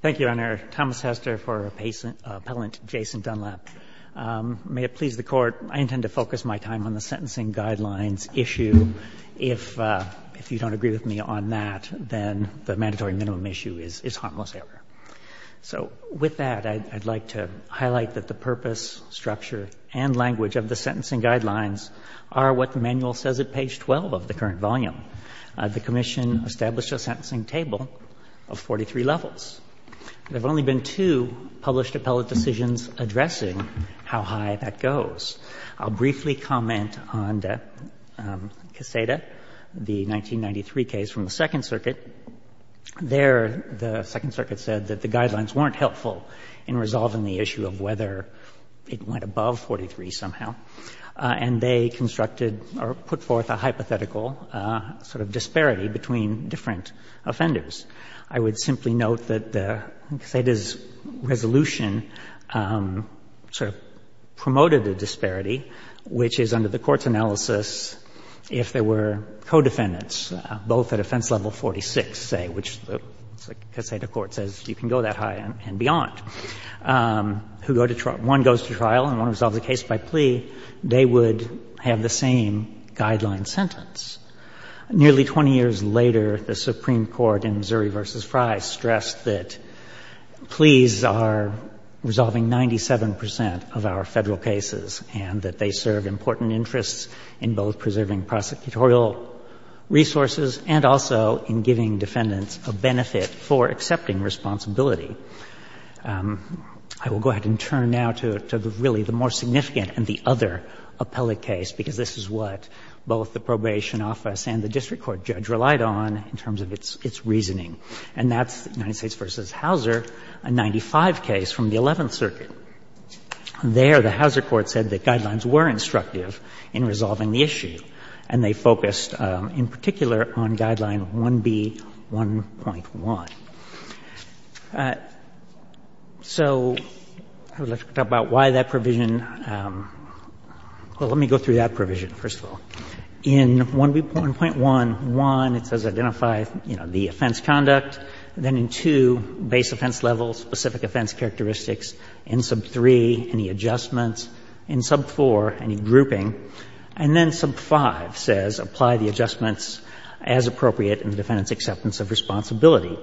Thank you, Your Honor. Thomas Hester for Appellant Jason Dunlap. May it please the Court, I intend to focus my time on the Sentencing Guidelines issue. If you don't agree with me on that, then the mandatory minimum issue is harmless error. So with that, I'd like to highlight that the purpose, structure, and language of the Sentencing Guidelines are what the manual says at page 12 of the current volume. The There have only been two published appellate decisions addressing how high that goes. I'll briefly comment on the Caseta, the 1993 case from the Second Circuit. There, the Second Circuit said that the guidelines weren't helpful in resolving the issue of whether it went above 43 somehow, and they constructed or put forth a hypothetical sort of disparity between different offenders. I would simply note that the Sentencing Guidelines say that the Caseta's resolution sort of promoted a disparity, which is, under the Court's analysis, if there were co-defendants, both at offense level 46, say, which the Caseta Court says you can go that high and beyond, who go to trial, one goes to trial and one resolves the case by plea, they would have the same guideline sentence. Nearly 20 years later, the Supreme Court in Zuri v. Frye stressed that pleas are resolving 97 percent of our Federal cases and that they serve important interests in both preserving prosecutorial resources and also in giving defendants a benefit for accepting responsibility. I will go ahead and turn now to the really the more significant and the other appellate case, because this is what both the probation office and the district court judge relied on in terms of its reasoning, and that's United States v. Hauser, a 95 case from the Eleventh Circuit. There, the Hauser court said the guidelines were instructive in resolving the issue, and they focused in particular on Guideline 1B.1.1. So let's talk about why that provision was so important. Well, let me go through that provision, first of all. In 1.1.1, it says identify, you know, the offense conduct, and then in 2, base offense level, specific offense characteristics, in sub 3, any adjustments, in sub 4, any grouping, and then sub 5 says apply the adjustments as appropriate in the defendant's acceptance of responsibility.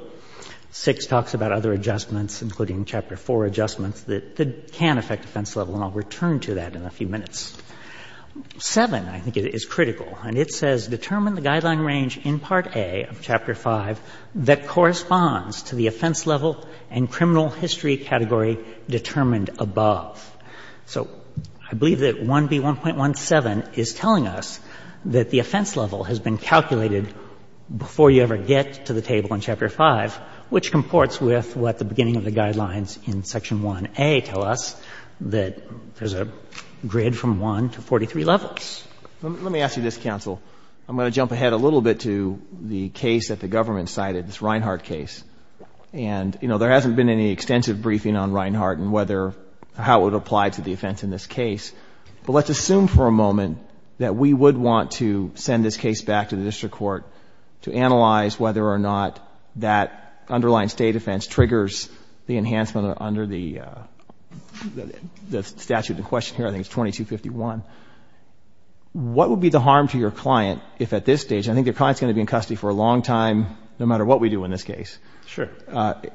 6 talks about other adjustments, including Chapter 4 adjustments, that can affect the offense level, and I'll return to that in a few minutes. 7, I think, is critical, and it says determine the guideline range in Part A of Chapter 5 that corresponds to the offense level and criminal history category determined above. So I believe that 1B.1.1.7 is telling us that the offense level has been calculated before you ever get to the table in Chapter 5, which comports with what the beginning of the that there's a grid from 1 to 43 levels. Let me ask you this, counsel. I'm going to jump ahead a little bit to the case that the government cited, this Reinhart case. And, you know, there hasn't been any extensive briefing on Reinhart and whether or how it would apply to the offense in this case, but let's assume for a moment that we would want to send this case back to the district court to analyze whether or not that underlying State offense triggers the enhancement under the statute in question here, I think it's 2251. What would be the harm to your client if, at this stage, I think their client is going to be in custody for a long time, no matter what we do in this case,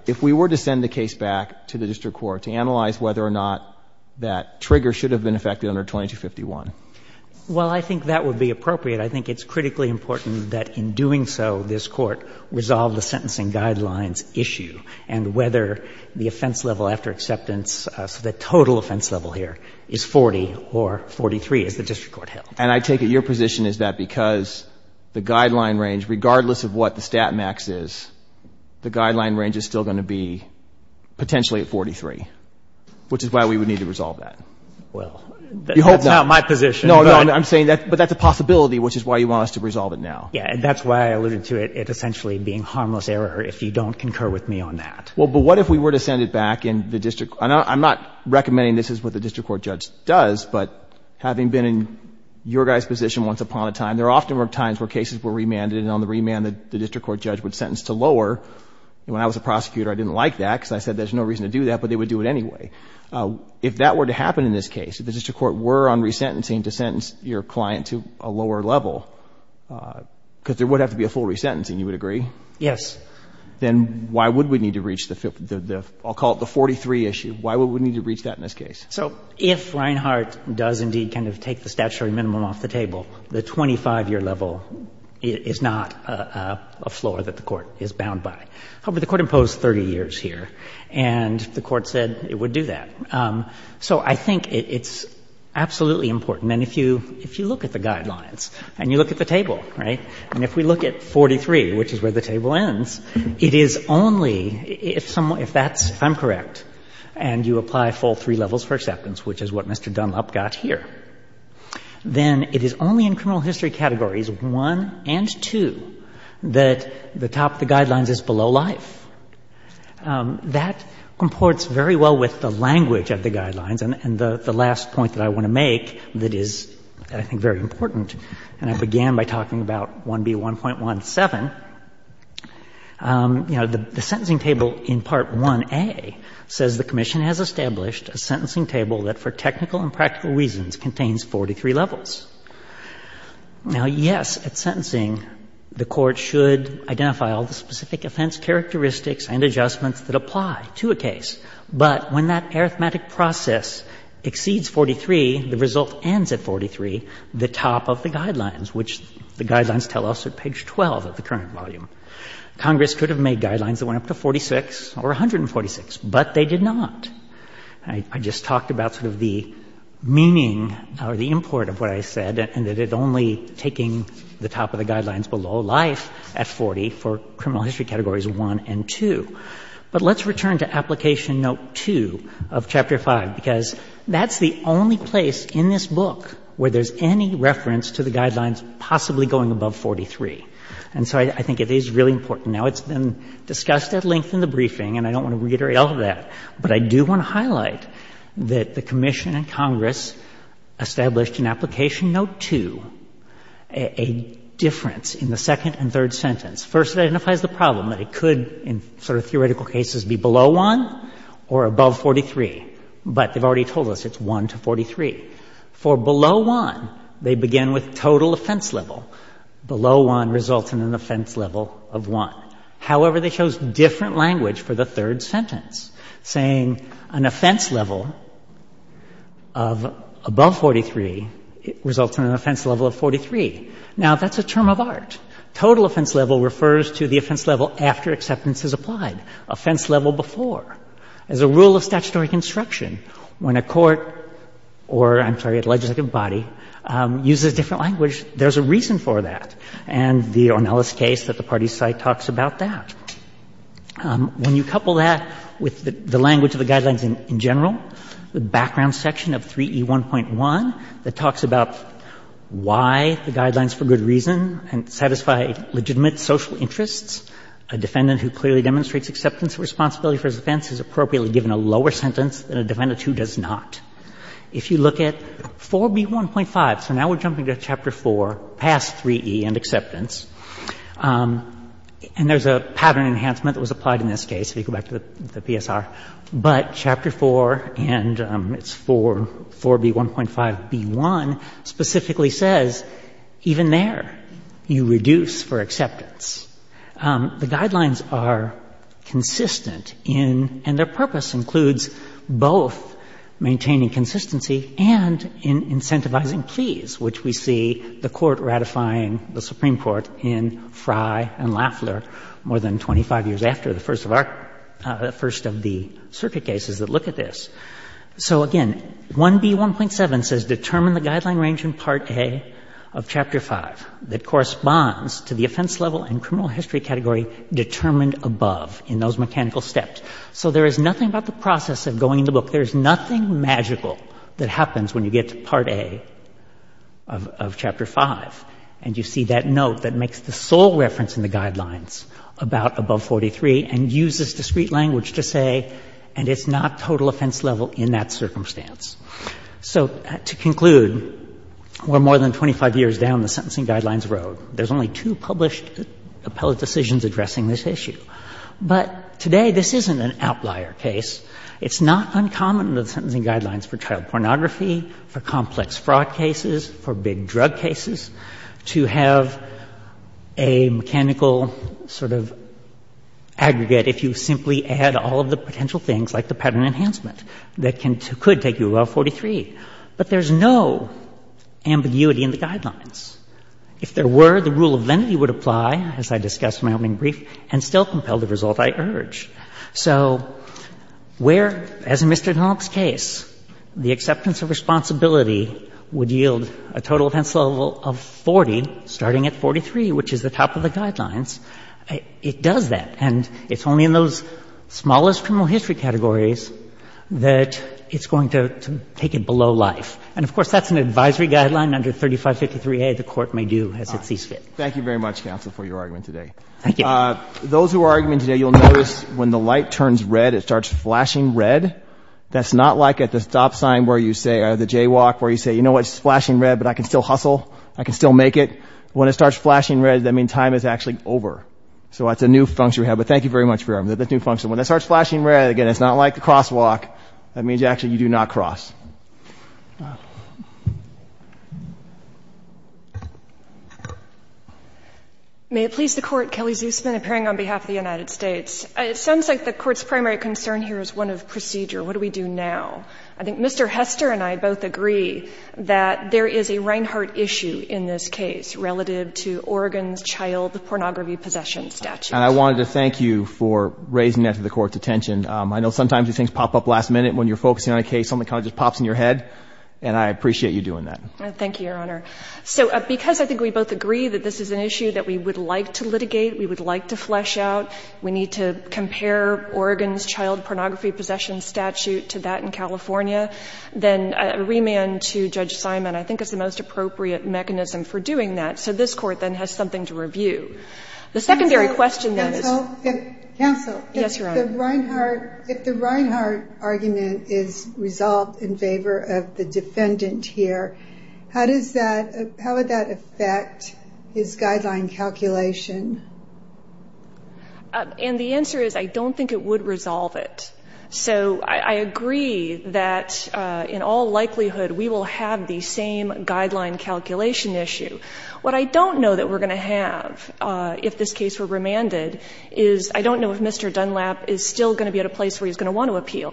if we were to send the case back to the district court to analyze whether or not that trigger should have been effected under 2251? Well, I think that would be appropriate. I think it's critically important that in doing so, this Court resolve the sentencing guidelines issue and whether the offense level after acceptance, so the total offense level here, is 40 or 43, as the district court held. And I take it your position is that because the guideline range, regardless of what the stat max is, the guideline range is still going to be potentially at 43, which is why we would need to resolve that. Well, that's not my position, but — No, no. I'm saying that — but that's a possibility, which is why you want us to resolve it now. Yeah. And that's why I alluded to it essentially being harmless error, if you don't concur with me on that. Well, but what if we were to send it back and the district — and I'm not recommending this is what the district court judge does, but having been in your guys' position once upon a time, there often were times where cases were remanded, and on the remand, the district court judge would sentence to lower. And when I was a prosecutor, I didn't like that, because I said there's no reason to do that, but they would do it anyway. If that were to happen in this case, if the district court were on resentencing to sentence your client to a lower level, because there would have to be a full resentencing, you would agree? Yes. Then why would we need to reach the — I'll call it the 43 issue. Why would we need to reach that in this case? So if Reinhart does indeed kind of take the statutory minimum off the table, the 25-year level is not a floor that the court is bound by. However, the court imposed 30 years here, and the court said it would do that. So I think it's absolutely important. And if you look at the guidelines, and you look at the table, right, and if we look at 43, which is where the table ends, it is only — if someone — if that's — if I'm correct, and you apply full three levels for acceptance, which is what Mr. Dunlap got here, then it is only in criminal That comports very well with the language of the guidelines. And the last point that I want to make that is, I think, very important, and I began by talking about 1B1.17, you know, the sentencing table in Part 1A says the Commission has established a sentencing table that for technical and practical reasons contains 43 levels. Now, yes, at sentencing, the court should identify all the specific offense characteristics and adjustments that apply to a case. But when that arithmetic process exceeds 43, the result ends at 43, the top of the guidelines, which the guidelines tell us at page 12 of the current volume. Congress could have made guidelines that went up to 46 or 146, but they did not. I just talked about sort of the meaning or the import of what I said, and that it only taking the top of the guidelines below life at 40 for criminal history categories 1 and 2. But let's return to Application Note 2 of Chapter 5, because that's the only place in this book where there's any reference to the guidelines possibly going above 43. And so I think it is really important. Now, it's been discussed at length in the briefing, and I don't want to reiterate all of that, but I do want to highlight that the Commission and Congress established in Application Note 2 a difference in the second and third sentence. First, it identifies the problem, that it could in sort of theoretical cases be below 1 or above 43, but they've already told us it's 1 to 43. For below 1, they begin with total offense level. Below 1 results in an offense level of 1. However, they chose different language for the third sentence, saying an offense level of above 43 results in an offense level of 43. Now, that's a term of art. Total offense level refers to the offense level after acceptance is applied, offense level before. As a rule of statutory construction, when a court or, I'm sorry, a legislative body uses different language, there's a reason for that. And the Ornelas case at the party's site talks about that. When you couple that with the language of the Guidelines in general, the background section of 3E1.1 that talks about why the Guidelines for good reason and satisfy legitimate social interests, a defendant who clearly demonstrates acceptance of responsibility for his offense is appropriately given a lower sentence than a defendant who does not. If you look at 4B1.5, so now we're jumping to Chapter 4, past 3E and acceptance, and there's a pattern enhancement that was applied in this case, if you go back to the PSR. But Chapter 4, and it's 4B1.5B1, specifically says, even there, you reduce for acceptance. The Guidelines are consistent in, and their purpose includes both maintaining consistency and in incentivizing pleas, which we see the Court ratifying the Supreme Court in Frye and Lafler more than 25 years after the first of our, the first of the circuit cases that look at this. So, again, 1B1.7 says, determine the Guideline range in Part A of Chapter 5 that corresponds to the offense level and criminal history category determined above in those mechanical steps. So there is nothing about the process of going to the book, there's nothing magical that happens when you get to Part A of Chapter 5, and you see that note that makes the sole reference in the Guidelines about above 43 and uses discrete language to say, and it's not total offense level in that circumstance. So, to conclude, we're more than 25 years down the Sentencing Guidelines road. There's only two published appellate decisions addressing this issue. But today, this isn't an outlier case. It's not uncommon in the Sentencing Guidelines for child pornography, for complex fraud cases, for big drug cases, to have a mechanical sort of aggregate if you simply add all of the potential things, like the pattern enhancement, that could take you above 43. But there's no ambiguity in the Guidelines. If there were, the rule of lenity would apply, as I discussed in my opening brief, and still compel the result I urge. So where, as in Mr. Dunlop's case, the acceptance of responsibility would yield a total offense level of 40, starting at 43, which is the top of the Guidelines, it does that. And it's only in those smallest criminal history categories that it's going to take it below life. And, of course, that's an advisory guideline under 3553A, the Court may do as it sees fit. Thank you very much, counsel, for your argument today. Thank you. Those who are arguing today, you'll notice when the light turns red, it starts flashing red. That's not like at the stop sign where you say, or the jaywalk, where you say, you know what, it's flashing red, but I can still hustle, I can still make it. When it starts flashing red, that means time is actually over. So that's a new function we have. But thank you very much for your argument. That's a new function. When it starts flashing red, again, it's not like the crosswalk. That means actually you do not cross. May it please the Court, Kelly Zusman, appearing on behalf of the United States. It sounds like the Court's primary concern here is one of procedure. What do we do now? I think Mr. Hester and I both agree that there is a Reinhardt issue in this case relative to Oregon's child pornography possession statute. And I wanted to thank you for raising that to the Court's attention. I know sometimes these things pop up last minute when you're focusing on a case, something kind of just pops in your head. And I appreciate you doing that. Thank you, Your Honor. So because I think we both agree that this is an issue that we would like to litigate, we would like to flesh out, we need to compare Oregon's child pornography possession statute to that in California, then a remand to Judge Simon I think is the most appropriate mechanism for doing that. So this Court then has something to review. Counsel? Yes, Your Honor. If the Reinhardt argument is resolved in favor of the defendant here, how would that affect his guideline calculation? And the answer is I don't think it would resolve it. So I agree that in all likelihood we will have the same guideline calculation issue. What I don't know that we're going to have if this case were remanded is I don't know if Mr. Dunlap is still going to be at a place where he's going to want to appeal,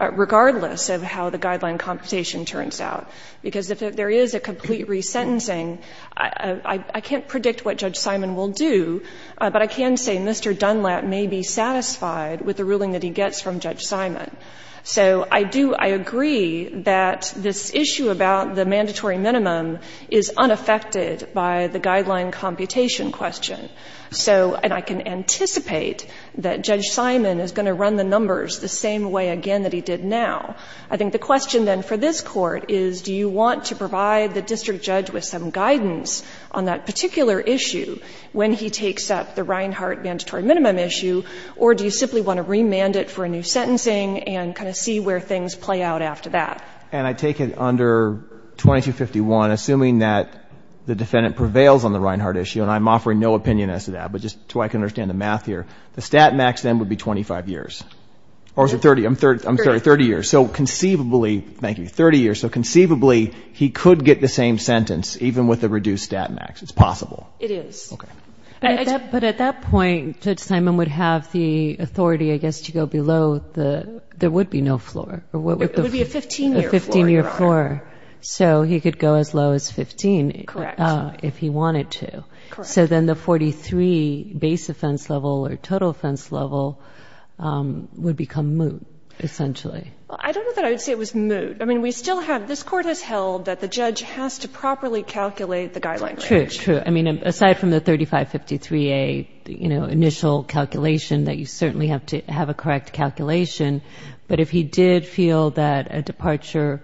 regardless of how the guideline computation turns out. Because if there is a complete resentencing, I can't predict what Judge Simon will do, but I can say Mr. Dunlap may be satisfied with the ruling that he gets from Judge Simon. So I do — I agree that this issue about the mandatory minimum is unaffected by the guideline computation question. So — and I can anticipate that Judge Simon is going to run the numbers the same way again that he did now. I think the question then for this Court is do you want to provide the district judge with some guidance on that particular issue when he takes up the Reinhardt mandatory minimum issue, or do you simply want to remand it for a new sentencing and kind of see where things play out after that? And I take it under 2251, assuming that the defendant prevails on the Reinhardt issue, and I'm offering no opinion as to that, but just so I can understand the math here, the stat max then would be 25 years. Or is it 30? I'm sorry, 30 years. Thirty. So conceivably — thank you — 30 years, so conceivably he could get the same sentence even with the reduced stat max. It's possible. It is. Okay. But at that point, Judge Simon would have the authority, I guess, to go below the — It would be a 15-year floor. — a 15-year floor. So he could go as low as 15 if he wanted to. Correct. So then the 43 base offense level or total offense level would become moot, essentially. I don't know that I would say it was moot. I mean, we still have — this Court has held that the judge has to properly calculate the guideline. True, true. I mean, aside from the 3553A, you know, initial calculation, that you certainly have to have a correct calculation. But if he did feel that a departure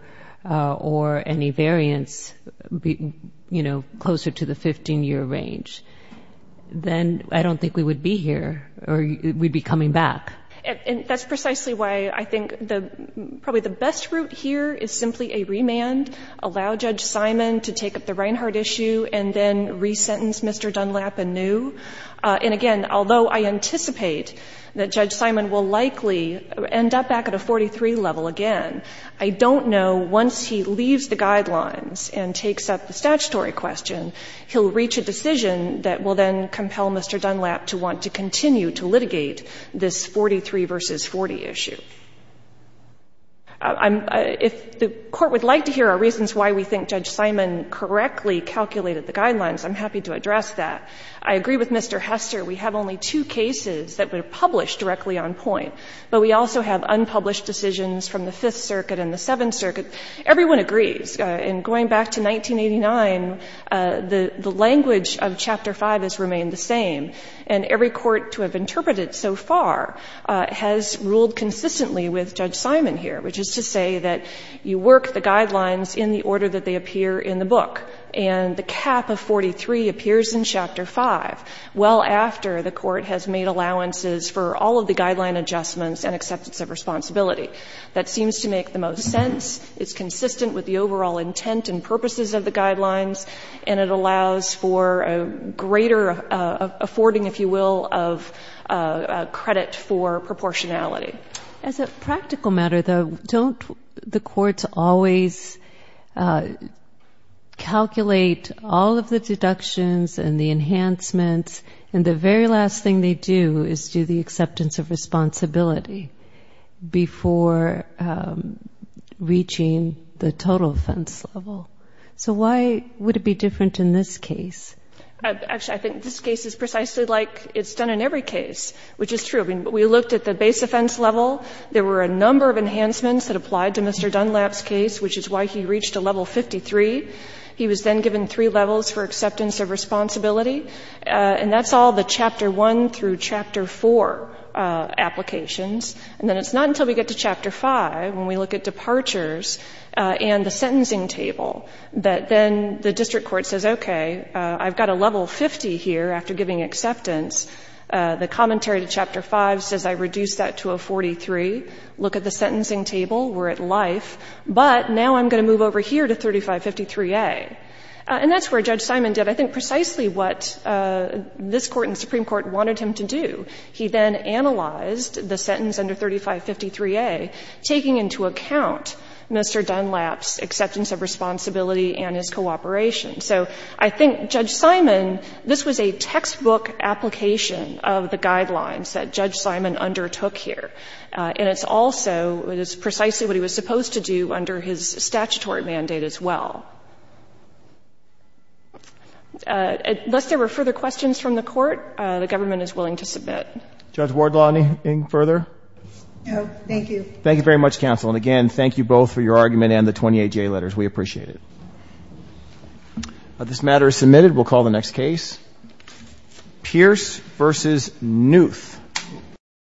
or any variance, you know, closer to the 15-year range, then I don't think we would be here, or we'd be coming back. And that's precisely why I think probably the best route here is simply a remand, allow Judge Simon to take up the Reinhart issue, and then resentence Mr. Dunlap anew. And again, although I anticipate that Judge Simon will likely end up back at a 43 level again, I don't know, once he leaves the guidelines and takes up the statutory question, he'll reach a decision that will then compel Mr. Dunlap to want to continue to litigate this 43 v. 40 issue. If the Court would like to hear our reasons why we think Judge Simon correctly calculated the guidelines, I'm happy to address that. I agree with Mr. Hester. We have only two cases that were published directly on point, but we also have unpublished decisions from the Fifth Circuit and the Seventh Circuit. Everyone agrees. And going back to 1989, the language of Chapter 5 has remained the same. And every court to have interpreted so far has ruled consistently with Judge Simon here, which is to say that you work the guidelines in the order that they appear in the book. And the cap of 43 appears in Chapter 5, well after the Court has made allowances for all of the guideline adjustments and acceptance of responsibility. That seems to make the most sense. It's consistent with the overall intent and purposes of the guidelines, and it allows for a greater affording, if you will, of credit for proportionality. As a practical matter, though, don't the courts always calculate all of the deductions and the enhancements, and the very last thing they do is do the acceptance of responsibility before reaching the total offense level? So why would it be different in this case? Actually, I think this case is precisely like it's done in every case, which is true. I mean, we looked at the base offense level. There were a number of enhancements that applied to Mr. Dunlap's case, which is why he reached a level 53. He was then given three levels for acceptance of responsibility. And that's all the Chapter 1 through Chapter 4 applications. And then it's not until we get to Chapter 5, when we look at departures and the sentencing table, that then the district court says, okay, I've got a level 50 here after giving acceptance. The commentary to Chapter 5 says I reduced that to a 43. Look at the sentencing table. We're at life. But now I'm going to move over here to 3553A. And that's where Judge Simon did, I think, precisely what this Court and the Supreme Court wanted him to do. He then analyzed the sentence under 3553A, taking into account Mr. Dunlap's acceptance of responsibility and his cooperation. So I think Judge Simon, this was a textbook application of the guidelines that Judge Simon undertook here. And it's also, it is precisely what he was supposed to do under his statutory mandate as well. Unless there were further questions from the Court, the government is willing to submit. Judge Wardlaw, anything further? No. Thank you. Thank you very much, counsel. And again, thank you both for your argument and the 28J letters. We appreciate it. This matter is submitted. We'll call the next case. Pierce v. Newth.